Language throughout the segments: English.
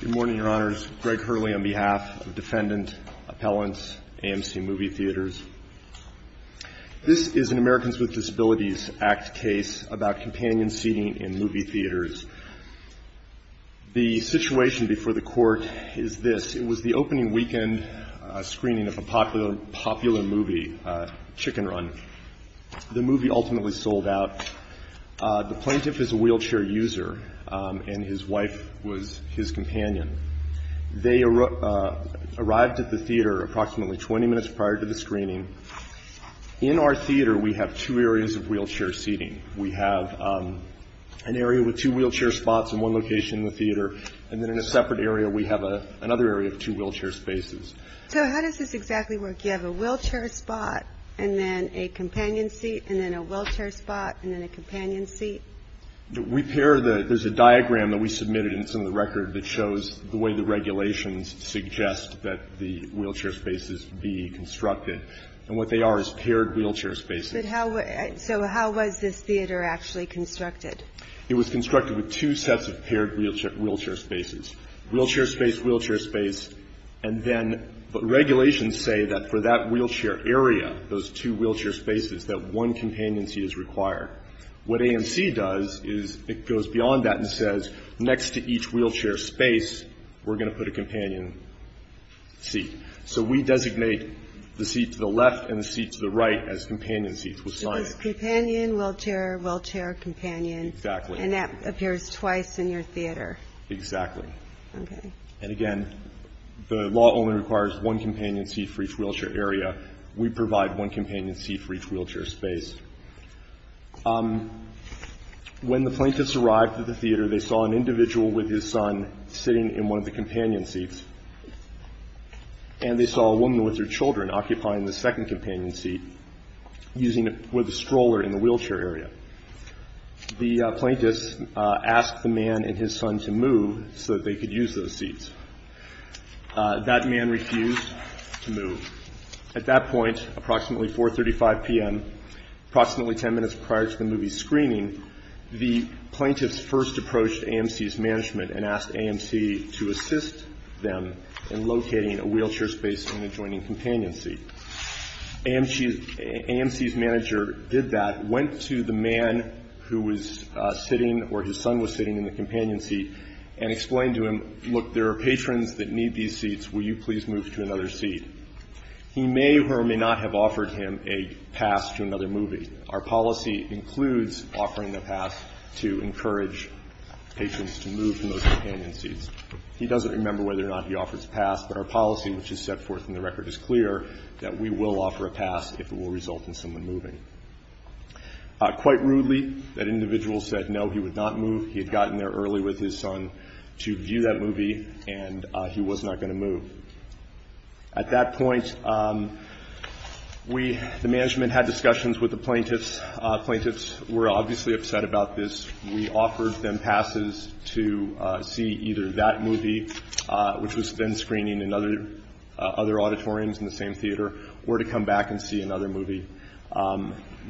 Good morning, Your Honors. Greg Hurley on behalf of Defendant Appellants AMC Movie Theaters. This is an Americans with Disabilities Act case about companion seating in movie theaters. The situation before the court is this. It was the opening weekend screening of a popular movie, Chicken Run. The movie ultimately sold out. The plaintiff is a wheelchair user, and his wife was his companion. They arrived at the theater approximately 20 minutes prior to the screening. In our theater, we have two areas of wheelchair seating. We have an area with two wheelchair spots in one location in the theater, and then in a separate area we have another area of two wheelchair spaces. So how does this exactly work? You have a wheelchair spot, and then a companion seat, and then a wheelchair spot, and then a companion seat? There's a diagram that we submitted, and it's in the record, that shows the way the regulations suggest that the wheelchair spaces be constructed. And what they are is paired wheelchair spaces. So how was this theater actually constructed? It was constructed with two sets of paired wheelchair spaces. Wheelchair space, wheelchair space. And then regulations say that for that wheelchair area, those two wheelchair spaces, that one companion seat is required. What AMC does is it goes beyond that and says, next to each wheelchair space, we're going to put a companion seat. So we designate the seat to the left and the seat to the right as companion seats. So it's companion, wheelchair, wheelchair, companion. Exactly. And that appears twice in your theater. Exactly. Okay. And again, the law only requires one companion seat for each wheelchair area. We provide one companion seat for each wheelchair space. When the plaintiffs arrived at the theater, they saw an individual with his son sitting in one of the companion seats, and they saw a woman with her children occupying the second companion seat with a stroller in the wheelchair area. The plaintiffs asked the man and his son to move so that they could use those seats. That man refused to move. At that point, approximately 4.35 p.m., approximately ten minutes prior to the movie's screening, the plaintiffs first approached AMC's management and asked AMC to assist them in locating a wheelchair space and adjoining companion seat. AMC's manager did that, went to the man who was sitting or his son was sitting in the companion seat and explained to him, look, there are patrons that need these seats. Will you please move to another seat? He may or may not have offered him a pass to another movie. Our policy includes offering a pass to encourage patrons to move from those companion seats. He doesn't remember whether or not he offers a pass, but our policy, which is set forth in the record, is clear that we will offer a pass if it will result in someone moving. Quite rudely, that individual said no, he would not move. He had gotten there early with his son to view that movie, and he was not going to move. At that point, we, the management, had discussions with the plaintiffs. Plaintiffs were obviously upset about this. We offered them passes to see either that movie, which was then screening in other auditoriums in the same theater, or to come back and see another movie.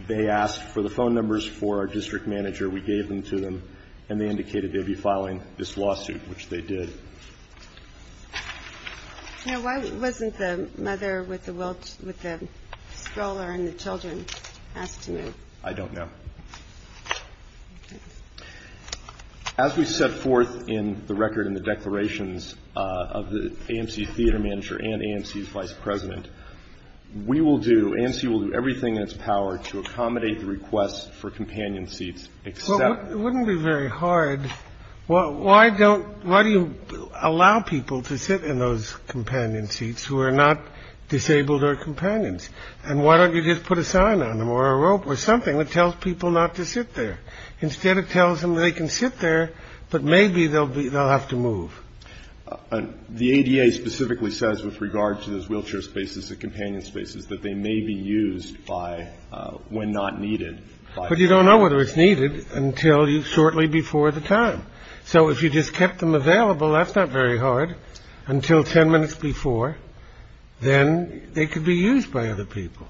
They asked for the phone numbers for our district manager. We gave them to them, and they indicated they would be filing this lawsuit, which they did. Why wasn't the mother with the stroller and the children asked to move? I don't know. As we set forth in the record in the declarations of the AMC theater manager and AMC's vice president, we will do, AMC will do everything in its power to accommodate the request for companion seats. It wouldn't be very hard. Why don't, why do you allow people to sit in those companion seats who are not disabled or companions? And why don't you just put a sign on them or a rope or something that tells people not to sit there? Instead, it tells them they can sit there, but maybe they'll have to move. The ADA specifically says with regard to those wheelchair spaces, the companion spaces, that they may be used by when not needed. But you don't know whether it's needed until shortly before the time. So if you just kept them available, that's not very hard. Until 10 minutes before, then they could be used by other people.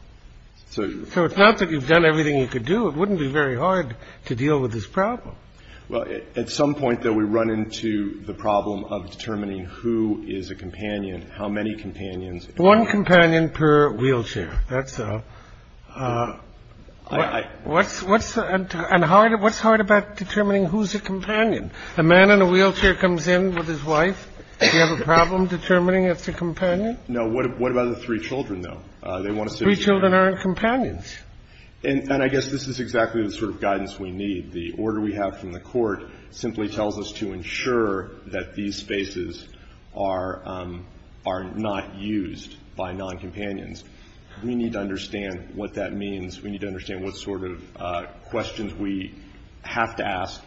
So it's not that you've done everything you could do. It wouldn't be very hard to deal with this problem. Well, at some point, though, we run into the problem of determining who is a companion, how many companions. One companion per wheelchair. That's what's what's hard. What's hard about determining who's a companion? A man in a wheelchair comes in with his wife. You have a problem determining it's a companion. No. What about the three children, though? They want to say children aren't companions. And I guess this is exactly the sort of guidance we need. The order we have from the court simply tells us to ensure that these spaces are not used by non-companions. We need to understand what that means. We need to understand what sort of questions we have to ask.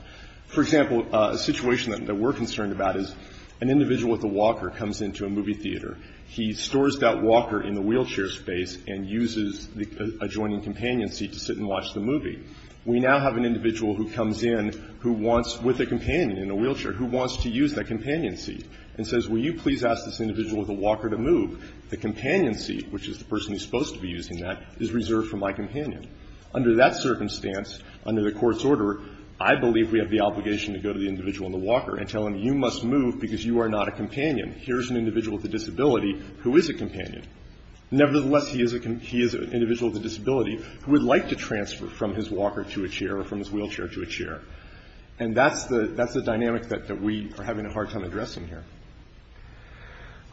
For example, a situation that we're concerned about is an individual with a walker comes into a movie theater. He stores that walker in the wheelchair space and uses the adjoining companion seat to sit and watch the movie. We now have an individual who comes in who wants, with a companion in a wheelchair, who wants to use that companion seat and says, will you please ask this individual with a walker to move? The companion seat, which is the person who's supposed to be using that, is reserved for my companion. Under that circumstance, under the court's order, I believe we have the obligation to go to the individual in the walker and tell him you must move because you are not a companion. Here's an individual with a disability who is a companion. Nevertheless, he is an individual with a disability who would like to transfer from his walker to a chair or from his wheelchair to a chair. And that's the dynamic that we are having a hard time addressing here.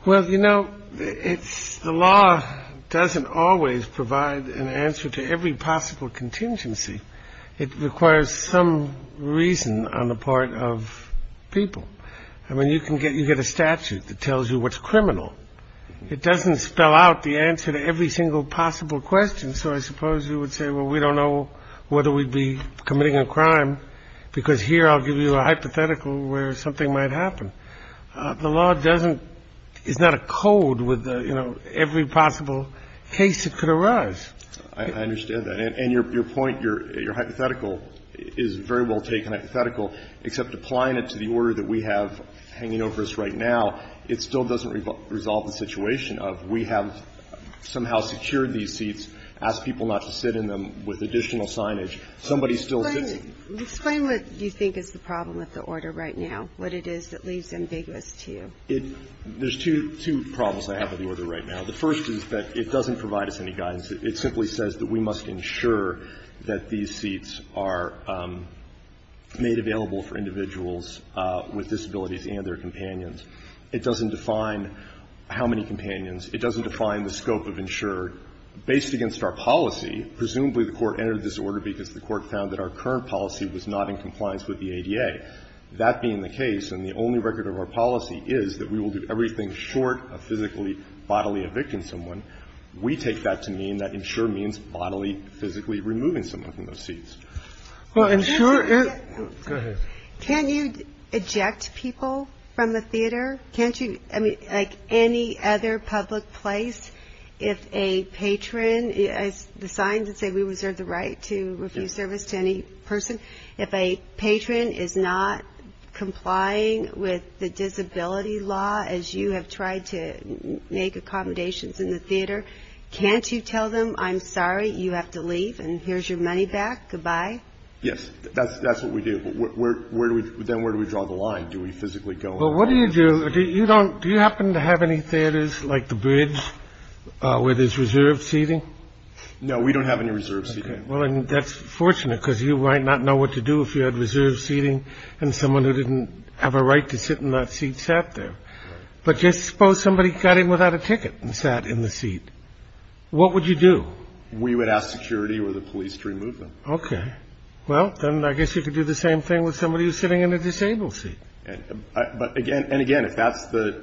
Well, you know, the law doesn't always provide an answer to every possible contingency. It requires some reason on the part of people. I mean, you can get a statute that tells you what's criminal. It doesn't spell out the answer to every single possible question. So I suppose you would say, well, we don't know whether we'd be committing a crime because here I'll give you a hypothetical where something might happen. The law doesn't – is not a code with, you know, every possible case that could arise. I understand that. And your point, your hypothetical is a very well taken hypothetical, except applying it to the order that we have hanging over us right now. It still doesn't resolve the situation of we have somehow secured these seats, asked people not to sit in them with additional signage. Somebody still sits in them. Explain what you think is the problem with the order right now, what it is that leaves ambiguous to you. There's two problems I have with the order right now. The first is that it doesn't provide us any guidance. It simply says that we must ensure that these seats are made available for individuals with disabilities and their companions. It doesn't define how many companions. It doesn't define the scope of insured. Based against our policy, presumably the Court entered this order because the Court found that our current policy was not in compliance with the ADA. That being the case, and the only record of our policy is that we will do everything short of physically, bodily evicting someone, we take that to mean that insure means bodily, physically removing someone from those seats. Can you eject people from the theater? Can't you? I mean, like any other public place, if a patron is assigned to say, we reserve the right to refuse service to any person. If a patron is not complying with the disability law, as you have tried to make accommodations in the theater, can't you tell them, I'm sorry, you have to leave and here's your money back. Goodbye. Yes, that's what we do. Then where do we draw the line? Do we physically go in? Well, what do you do? Do you happen to have any theaters like the Bridge where there's reserved seating? No, we don't have any reserved seating. Well, that's fortunate because you might not know what to do if you had reserved seating and someone who didn't have a right to sit in that seat sat there. But just suppose somebody got in without a ticket and sat in the seat. What would you do? We would ask security or the police to remove them. Okay. Well, then I guess you could do the same thing with somebody who's sitting in a disabled seat. But again, and again, if that's the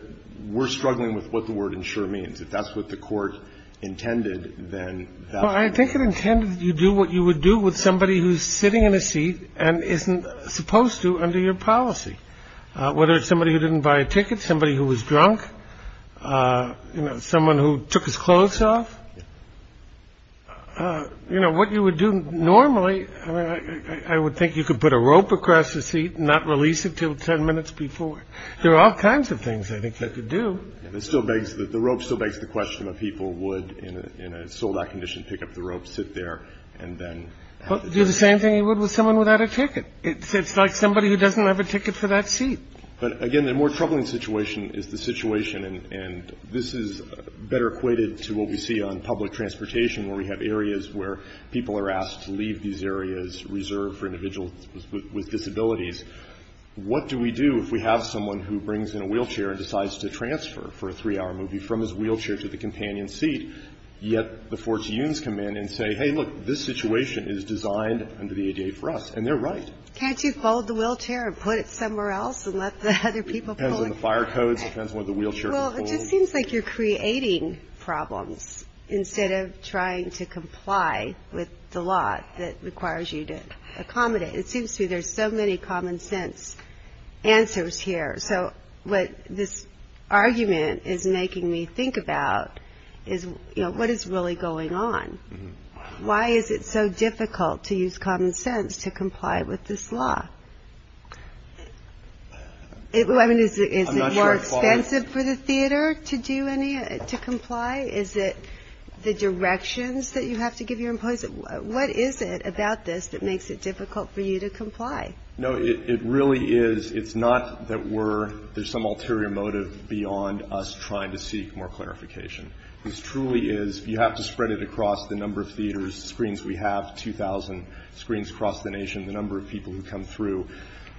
we're struggling with what the word ensure means, if that's what the court intended, then I think it intended you do what you would do with somebody who's sitting in a seat and isn't supposed to under your policy, whether it's somebody who didn't buy a ticket, somebody who was drunk, someone who took his clothes off. You know what you would do normally. I would think you could put a rope across the seat and not release it till 10 minutes before. There are all kinds of things I think that could do. And it still begs that the rope still begs the question of people would in a sold out condition pick up the rope, sit there and then do the same thing you would with someone without a ticket. It's like somebody who doesn't have a ticket for that seat. But again, the more troubling situation is the situation, and this is better equated to what we see on public transportation where we have areas where people are asked to leave these areas reserved for individuals with disabilities. What do we do if we have someone who brings in a wheelchair and decides to transfer for a three-hour movie from his wheelchair to the companion seat, yet the Fortunes come in and say, hey, look, this situation is designed under the ADA for us. And they're right. Can't you fold the wheelchair and put it somewhere else and let the other people pull it? It depends on the fire codes. It depends on what the wheelchair can pull. Well, it just seems like you're creating problems instead of trying to comply with the law that requires you to accommodate. It seems to me there's so many common sense answers here. So what this argument is making me think about is, you know, what is really going on? Why is it so difficult to use common sense to comply with this law? I mean, is it more expensive for the theater to comply? Is it the directions that you have to give your employees? What is it about this that makes it difficult for you to comply? No, it really is. It's not that there's some ulterior motive beyond us trying to seek more clarification. This truly is you have to spread it across the number of theaters, screens we have, 2,000 screens across the nation, the number of people who come through.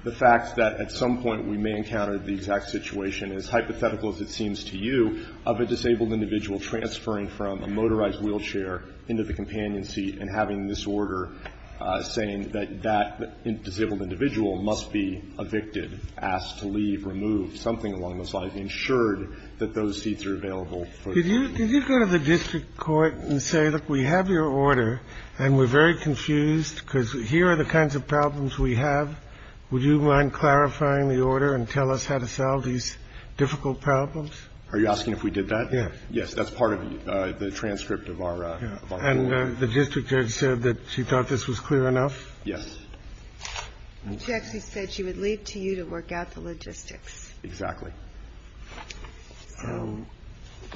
The fact that at some point we may encounter the exact situation, as hypothetical as it seems to you, of a disabled individual transferring from a motorized wheelchair into the companion seat and having this order saying that that disabled individual must be evicted, asked to leave, removed, something along those lines, ensured that those seats are available. Did you go to the district court and say, look, we have your order and we're very confused because here are the kinds of problems we have. Would you mind clarifying the order and tell us how to solve these difficult problems? Are you asking if we did that? Yes. Yes. That's part of the transcript of our order. And the district judge said that she thought this was clear enough? Yes. She actually said she would leave to you to work out the logistics. Exactly.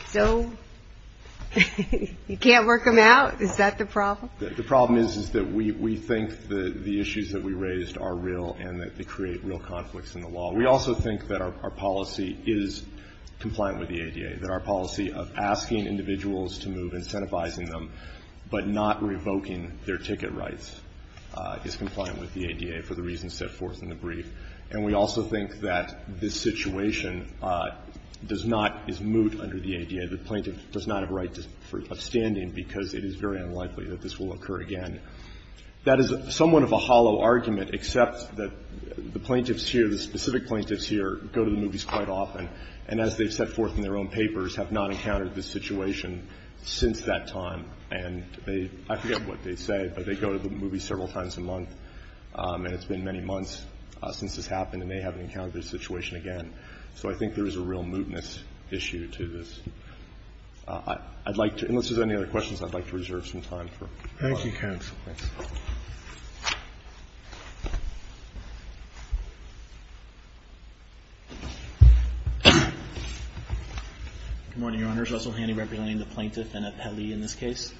So you can't work them out? Is that the problem? The problem is that we think that the issues that we raised are real and that they create real conflicts in the law. We also think that our policy is compliant with the ADA, that our policy of asking individuals to move, incentivizing them, but not revoking their ticket rights is compliant with the ADA for the reasons set forth in the brief. And we also think that this situation does not, is moot under the ADA. The plaintiff does not have a right of standing because it is very unlikely that this will occur again. That is somewhat of a hollow argument, except that the plaintiffs here, the specific plaintiffs here, go to the movies quite often. And as they've set forth in their own papers, have not encountered this situation since that time. And they, I forget what they say, but they go to the movies several times a month. And it's been many months since this happened and they haven't encountered this situation again. So I think there is a real mootness issue to this. I'd like to, unless there's any other questions, I'd like to reserve some time for questions. Thank you, counsel. Thanks. Good morning, Your Honors. Russell Handy representing the plaintiff in this case.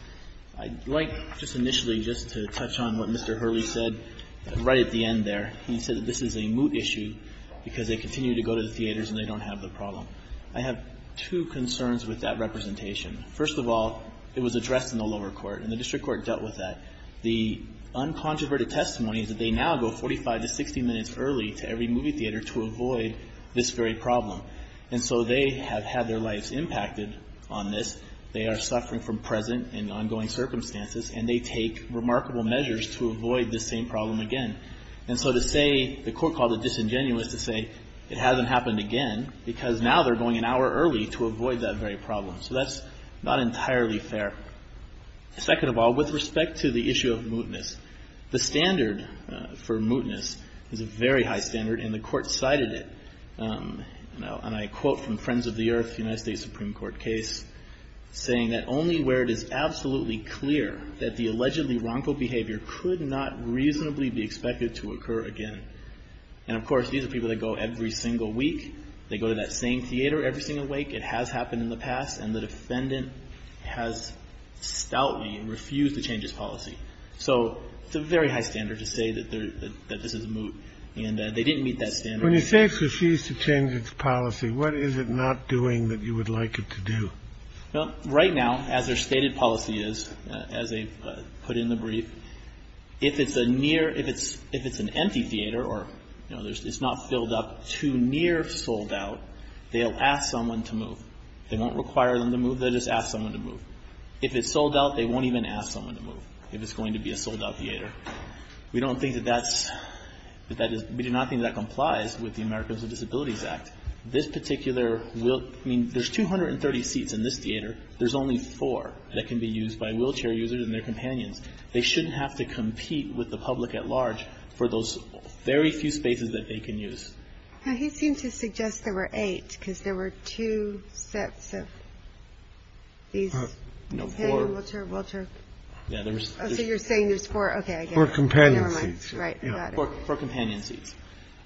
I'd like just initially just to touch on what Mr. Hurley said right at the end there. He said that this is a moot issue because they continue to go to the theaters and they don't have the problem. I have two concerns with that representation. First of all, it was addressed in the lower court and the district court dealt with that. The uncontroverted testimony is that they now go 45 to 60 minutes early to every movie theater to avoid this very problem. And so they have had their lives impacted on this. They are suffering from present and ongoing circumstances and they take remarkable measures to avoid this same problem again. And so to say the court called it disingenuous to say it hasn't happened again because now they're going an hour early to avoid that very problem. So that's not entirely fair. Second of all, with respect to the issue of mootness, the standard for mootness is a very high standard and the court cited it. And I quote from Friends of the Earth, United States Supreme Court case, saying that only where it is absolutely clear that the allegedly wrongful behavior could not reasonably be expected to occur again. And, of course, these are people that go every single week. They go to that same theater every single week. It has happened in the past and the defendant has stoutly refused to change his policy. So it's a very high standard to say that this is moot. And they didn't meet that standard. When you say it's refused to change its policy, what is it not doing that you would like it to do? Well, right now, as their stated policy is, as they put in the brief, if it's an empty theater or it's not filled up too near sold out, they'll ask someone to move. They won't require them to move. They'll just ask someone to move. If it's sold out, they won't even ask someone to move if it's going to be a sold out theater. We do not think that complies with the Americans with Disabilities Act. There's 230 seats in this theater. There's only four that can be used by wheelchair users and their companions. They shouldn't have to compete with the public at large for those very few spaces that they can use. He seemed to suggest there were eight because there were two sets of these. So you're saying there's four? Four companion seats. Right, I got it. Four companion seats.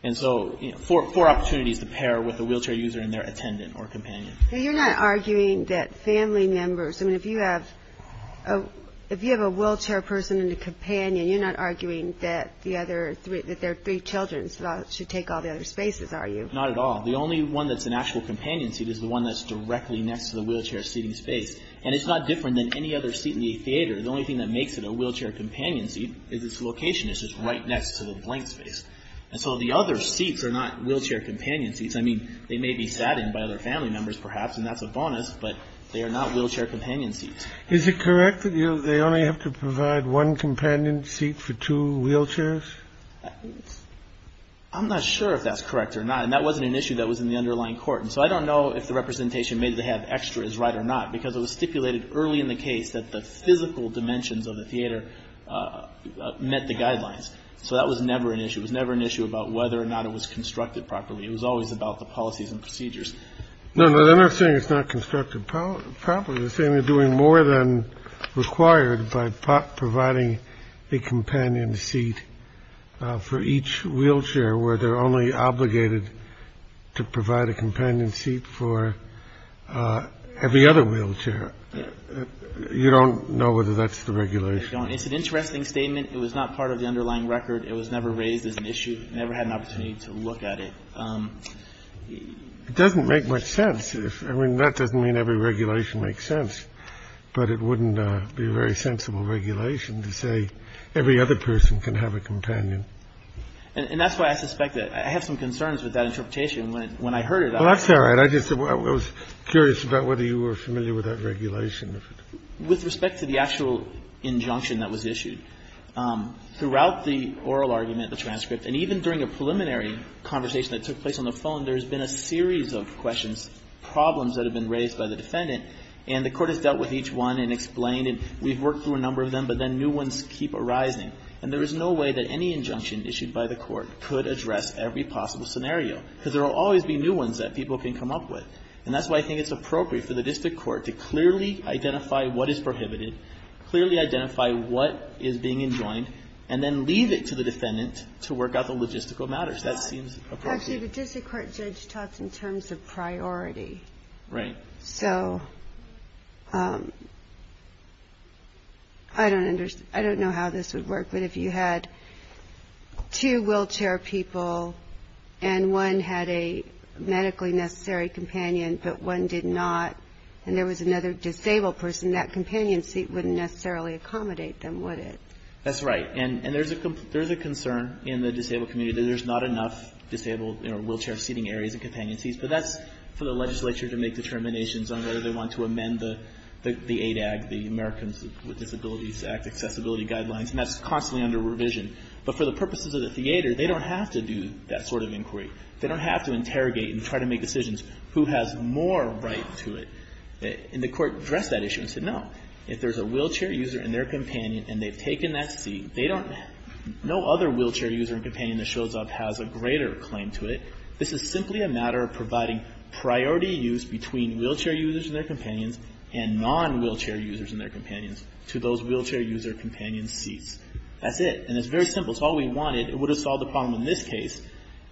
And so four opportunities to pair with a wheelchair user and their attendant or companion. You're not arguing that family members, if you have a wheelchair person and a companion, you're not arguing that their three children should take all the other spaces, are you? Not at all. The only one that's an actual companion seat is the one that's directly next to the wheelchair seating space. And it's not different than any other seat in the theater. The only thing that makes it a wheelchair companion seat is its location. It's just right next to the blank space. And so the other seats are not wheelchair companion seats. I mean, they may be sat in by other family members perhaps, and that's a bonus, but they are not wheelchair companion seats. Is it correct that they only have to provide one companion seat for two wheelchairs? I'm not sure if that's correct or not. And that wasn't an issue that was in the underlying court. And so I don't know if the representation made to have extra is right or not, because it was stipulated early in the case that the physical dimensions of the theater met the guidelines. So that was never an issue. It was never an issue about whether or not it was constructed properly. It was always about the policies and procedures. No, no, they're not saying it's not constructed properly. They're saying they're doing more than required by providing a companion seat for each wheelchair where they're only obligated to provide a companion seat for every other wheelchair. You don't know whether that's the regulation. It's an interesting statement. It was not part of the underlying record. It was never raised as an issue, never had an opportunity to look at it. It doesn't make much sense. I mean, that doesn't mean every regulation makes sense, but it wouldn't be a very sensible regulation to say every other person can have a companion. And that's why I suspect that I have some concerns with that interpretation when I heard it. Well, that's all right. I just was curious about whether you were familiar with that regulation. With respect to the actual injunction that was issued, throughout the oral argument, the transcript, and even during a preliminary conversation that took place on the phone, there has been a series of questions, problems that have been raised by the defendant, and the Court has dealt with each one and explained, and we've worked through a number of them, but then new ones keep arising. And there is no way that any injunction issued by the Court could address every possible scenario because there will always be new ones that people can come up with. And that's why I think it's appropriate for the district court to clearly identify what is prohibited, clearly identify what is being enjoined, and then leave it to the defendant to work out the logistical matters. That seems appropriate. Actually, the district court judge talks in terms of priority. Right. So I don't know how this would work, but if you had two wheelchair people and one had a medically necessary companion, but one did not and there was another disabled person, that companion seat wouldn't necessarily accommodate them, would it? That's right. And there's a concern in the disabled community that there's not enough disabled wheelchair seating areas and companion seats, but that's for the legislature to make determinations on whether they want to amend the ADAG, the Americans with Disabilities Act Accessibility Guidelines, and that's constantly under revision. But for the purposes of the theater, they don't have to do that sort of inquiry. They don't have to interrogate and try to make decisions. Who has more right to it? And the Court addressed that issue and said, no. If there's a wheelchair user and their companion and they've taken that seat, no other wheelchair user and companion that shows up has a greater claim to it. This is simply a matter of providing priority use between wheelchair users and their companions and non-wheelchair users and their companions to those wheelchair user companion seats. That's it. And it's very simple. It's all we wanted. It would have solved the problem in this case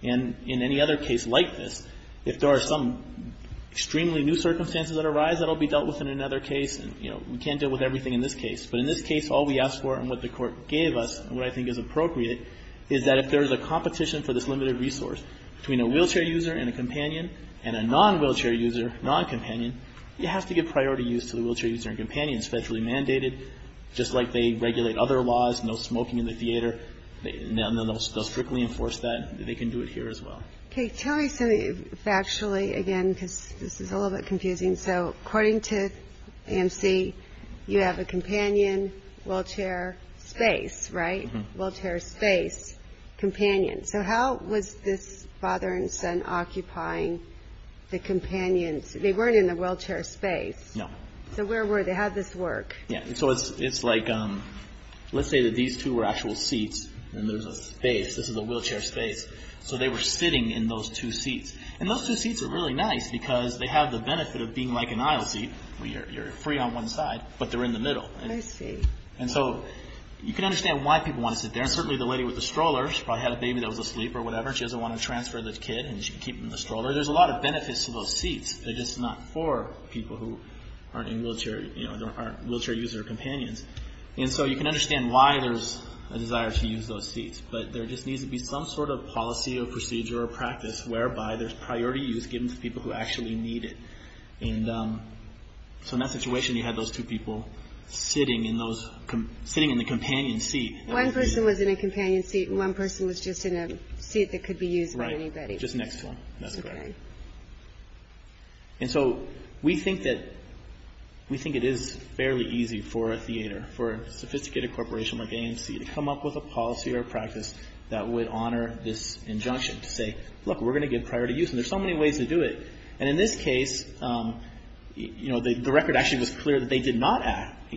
and in any other case like this. If there are some extremely new circumstances that arise, that will be dealt with in another case. And, you know, we can't deal with everything in this case. But in this case, all we asked for and what the Court gave us and what I think is appropriate is that if there's a competition for this limited resource between a wheelchair user and a companion and a non-wheelchair user, non-companion, you have to give priority use to the wheelchair user and companion. It's federally mandated. Just like they regulate other laws, no smoking in the theater, they'll strictly enforce that. They can do it here as well. Okay. Tell me something factually again because this is a little bit confusing. So according to AMC, you have a companion, wheelchair, space, right? Mm-hmm. Wheelchair, space, companion. So how was this father and son occupying the companion? They weren't in the wheelchair space. No. So where were they? How does this work? Yeah. So it's like let's say that these two were actual seats and there's a space. This is a wheelchair space. So they were sitting in those two seats. And those two seats are really nice because they have the benefit of being like an aisle seat where you're free on one side but they're in the middle. I see. And so you can understand why people want to sit there. And certainly the lady with the stroller, she probably had a baby that was asleep or whatever, she doesn't want to transfer the kid and she can keep him in the stroller. There's a lot of benefits to those seats. They're just not for people who aren't wheelchair user companions. And so you can understand why there's a desire to use those seats. But there just needs to be some sort of policy or procedure or practice whereby there's priority use given to people who actually need it. And so in that situation, you had those two people sitting in the companion seat. One person was in a companion seat and one person was just in a seat that could be used by anybody. Right, just next to them. That's correct. And so we think that it is fairly easy for a theater, for a sophisticated corporation like AMC to come up with a policy or a practice that would honor this injunction to say, look, we're going to give priority use. And there's so many ways to do it. And in this case, the record actually was clear that they did not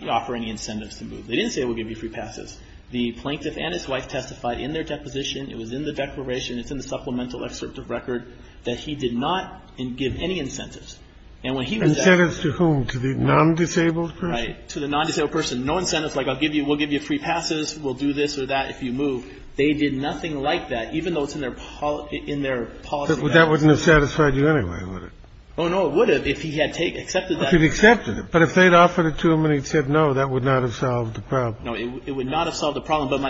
offer any incentives to move. They didn't say we'll give you free passes. The plaintiff and his wife testified in their deposition. It was in the declaration. It's in the supplemental excerpt of record that he did not give any incentives. And when he was there. Incentives to whom? To the non-disabled person? Right, to the non-disabled person. No incentives like I'll give you, we'll give you free passes, we'll do this or that if you move. They did nothing like that, even though it's in their policy. That wouldn't have satisfied you anyway, would it? Oh, no, it would have if he had accepted that. If he had accepted it. But if they'd offered it to him and he'd said no, that would not have solved the problem. No, it would not have solved the problem. But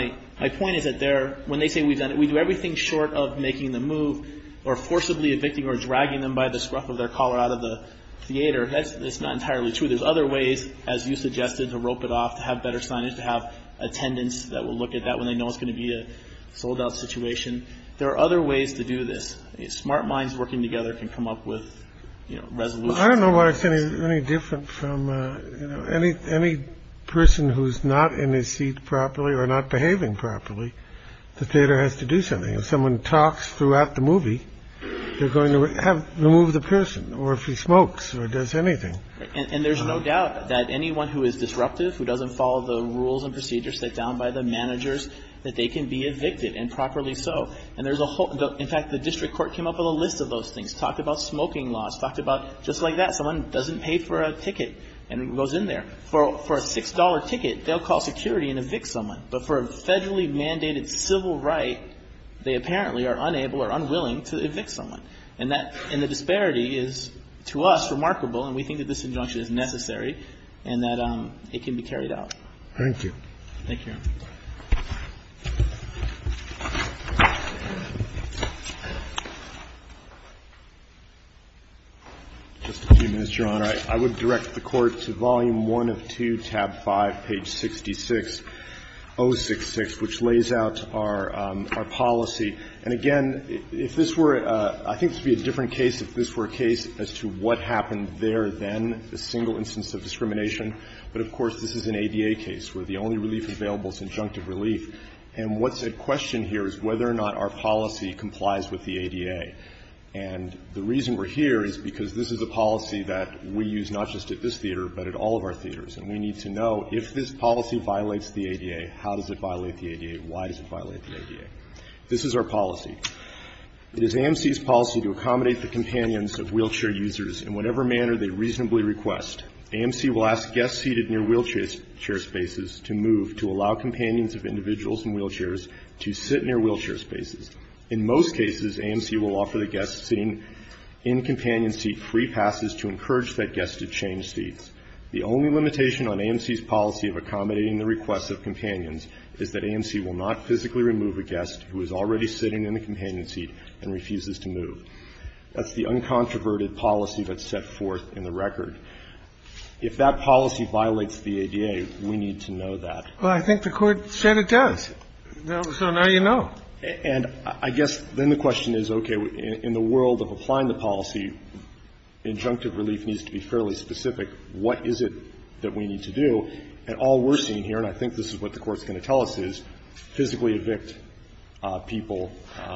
my point is that they're when they say we've done it, we do everything short of making the move or forcibly evicting or dragging them by the scruff of their collar out of the theater. That's not entirely true. There's other ways, as you suggested, to rope it off, to have better signage, to have attendants that will look at that when they know it's going to be a sold out situation. There are other ways to do this. Smart minds working together can come up with resolutions. I don't know why it's any different from any any person who's not in his seat properly or not behaving properly. The theater has to do something. If someone talks throughout the movie, they're going to have remove the person or if he smokes or does anything. And there's no doubt that anyone who is disruptive, who doesn't follow the rules and procedures set down by the managers, that they can be evicted and properly. So and there's a whole. In fact, the district court came up with a list of those things, talked about smoking laws, talked about just like that. Someone doesn't pay for a ticket and goes in there for a six dollar ticket. They'll call security and evict someone. But for a federally mandated civil right, they apparently are unable or unwilling to evict someone. And that and the disparity is to us remarkable. And we think that this injunction is necessary and that it can be carried out. Thank you. Thank you. Just a few minutes, Your Honor. I would direct the Court to volume 1 of 2, tab 5, page 66, 066, which lays out our our policy. And again, if this were, I think this would be a different case if this were a case as to what happened there then, the single instance of discrimination. But of course, this is an ADA case where the only relief available is injunctive relief. And what's at question here is whether or not our policy complies with the ADA. And the reason we're here is because this is a policy that we use not just at this theater, but at all of our theaters. And we need to know if this policy violates the ADA, how does it violate the ADA, why does it violate the ADA? This is our policy. It is AMC's policy to accommodate the companions of wheelchair users in whatever manner they reasonably request. AMC will ask guests seated near wheelchair spaces to move to allow companions of individuals in wheelchairs to sit near wheelchair spaces. In most cases, AMC will offer the guest sitting in companion seat free passes to encourage that guest to change seats. The only limitation on AMC's policy of accommodating the requests of companions is that AMC will not physically remove a guest who is already sitting in the companion seat and refuses to move. That's the uncontroverted policy that's set forth in the record. If that policy violates the ADA, we need to know that. Well, I think the Court said it does. So now you know. And I guess then the question is, okay, in the world of applying the policy, injunctive relief needs to be fairly specific. What is it that we need to do? At all we're seeing here, and I think this is what the Court's going to tell us, is physically evict people.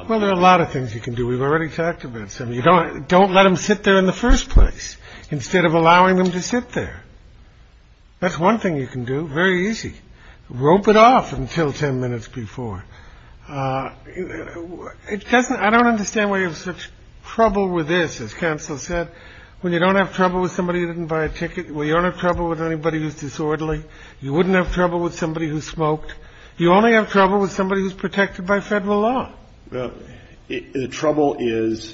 Well, there are a lot of things you can do. We've already talked about some. Don't let them sit there in the first place instead of allowing them to sit there. That's one thing you can do. Very easy. Rope it off until 10 minutes before. I don't understand why you have such trouble with this, as counsel said, when you don't have trouble with somebody who didn't buy a ticket, when you don't have trouble with anybody who's disorderly, you wouldn't have trouble with somebody who smoked. You only have trouble with somebody who's protected by federal law. Well, the trouble is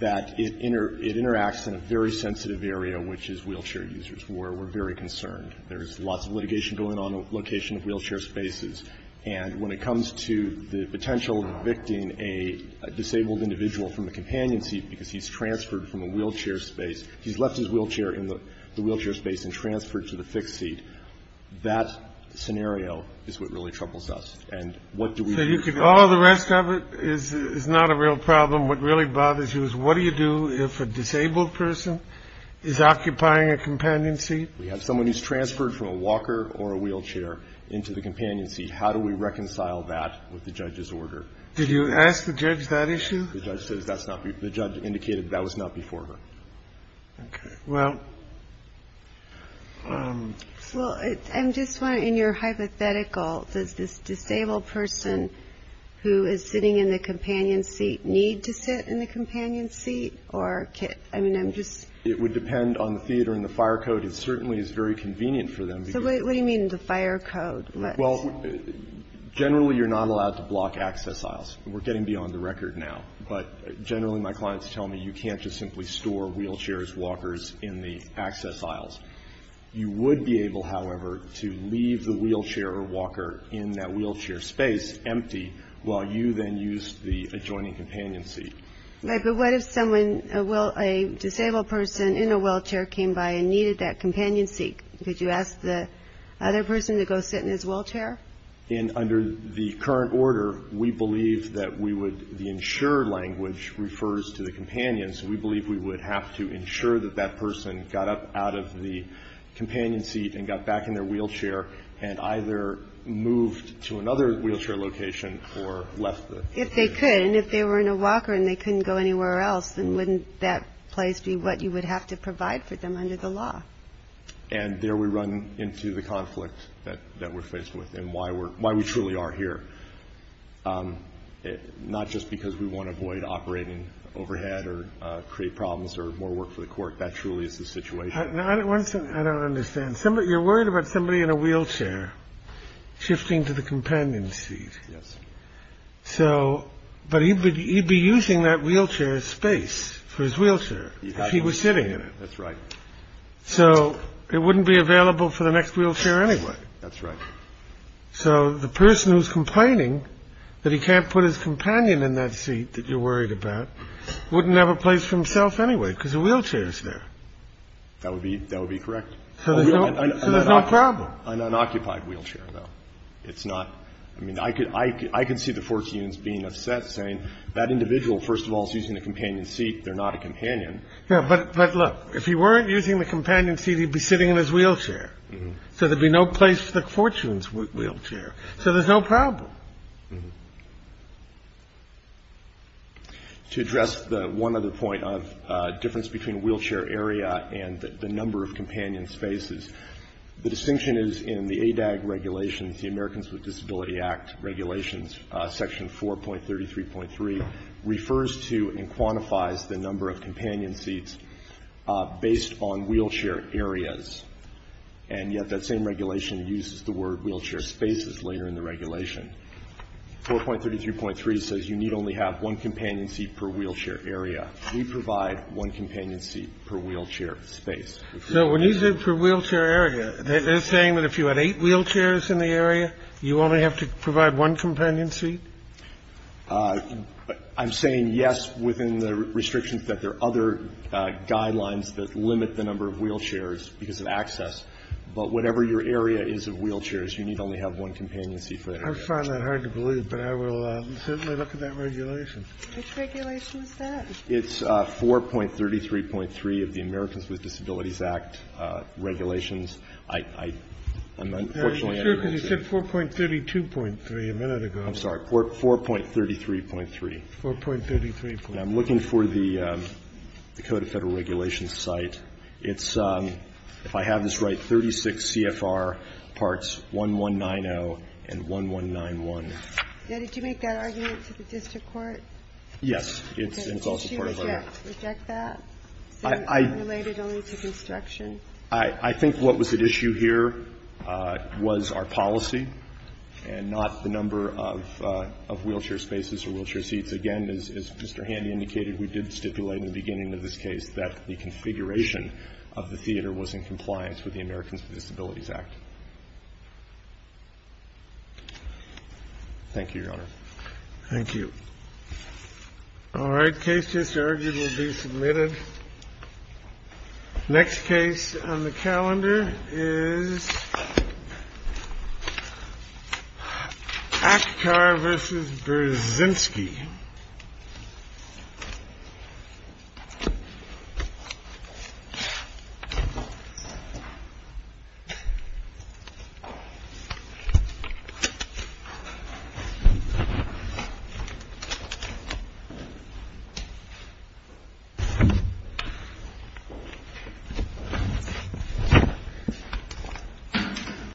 that it interacts in a very sensitive area, which is wheelchair users. We're very concerned. There's lots of litigation going on on the location of wheelchair spaces. And when it comes to the potential of evicting a disabled individual from a companion seat because he's transferred from a wheelchair space, he's left his wheelchair in the wheelchair space and transferred to the fixed seat, And what do we do? All the rest of it is not a real problem. What really bothers you is what do you do if a disabled person is occupying a companion seat? We have someone who's transferred from a walker or a wheelchair into the companion seat. How do we reconcile that with the judge's order? Did you ask the judge that issue? The judge indicated that was not before her. Okay. Well. Well, I'm just wondering, in your hypothetical, does this disabled person who is sitting in the companion seat need to sit in the companion seat? I mean, I'm just. It would depend on the theater and the fire code. It certainly is very convenient for them. So what do you mean the fire code? Well, generally, you're not allowed to block access aisles. We're getting beyond the record now. But generally, my clients tell me you can't just simply store wheelchairs, walkers in the access aisles. You would be able, however, to leave the wheelchair or walker in that wheelchair space empty, while you then use the adjoining companion seat. Right. But what if someone, a disabled person in a wheelchair came by and needed that companion seat? Could you ask the other person to go sit in his wheelchair? And under the current order, we believe that we would. The ensure language refers to the companions. We believe we would have to ensure that that person got up out of the companion seat and got back in their wheelchair and either moved to another wheelchair location or left the. If they could. And if they were in a walker and they couldn't go anywhere else, then wouldn't that place be what you would have to provide for them under the law? And there we run into the conflict that we're faced with and why we truly are here. Not just because we want to avoid operating overhead or create problems or more work for the court. That truly is the situation. I don't understand. You're worried about somebody in a wheelchair shifting to the companion seat. Yes. But he'd be using that wheelchair space for his wheelchair if he was sitting in it. That's right. So it wouldn't be available for the next wheelchair anyway. That's right. So the person who's complaining that he can't put his companion in that seat that you're worried about wouldn't have a place for himself anyway because the wheelchair is there. That would be that would be correct. So there's no problem. An unoccupied wheelchair, though. It's not. I mean, I could I can see the fourteens being upset, saying that individual, first of all, is using a companion seat. They're not a companion. But look, if he weren't using the companion seat, he'd be sitting in his wheelchair. So there'd be no place for the fortunes wheelchair. So there's no problem. To address the one other point of difference between wheelchair area and the number of companion spaces. The distinction is in the ADAG regulations, the Americans with Disability Act regulations, Section 4.33.3 refers to and quantifies the number of companion seats based on wheelchair areas. And yet that same regulation uses the word wheelchair spaces later in the regulation. 4.33.3 says you need only have one companion seat per wheelchair area. We provide one companion seat per wheelchair space. So when you said per wheelchair area, they're saying that if you had eight wheelchairs in the area, you only have to provide one companion seat? I'm saying yes, within the restrictions that there are other guidelines that limit the number of wheelchairs because of access. But whatever your area is of wheelchairs, you need only have one companion seat for that area. I find that hard to believe, but I will certainly look at that regulation. Which regulation is that? It's 4.33.3 of the Americans with Disabilities Act regulations. I'm unfortunately not going to say it. You said 4.32.3 a minute ago. I'm sorry. 4.33.3. 4.33.3. I'm looking for the Code of Federal Regulations site. It's, if I have this right, 36 CFR parts 1190 and 1191. Did you make that argument to the district court? Yes. It's also part of our law. Did she reject that, saying unrelated only to construction? I think what was at issue here was our policy and not the number of wheelchair spaces or wheelchair seats. Again, as Mr. Handy indicated, we did stipulate in the beginning of this case that the configuration of the theater was in compliance with the Americans with Disabilities Thank you, Your Honor. Thank you. All right. Case just argued will be submitted. Next case on the calendar is Akkar versus Berzynski. Thank you.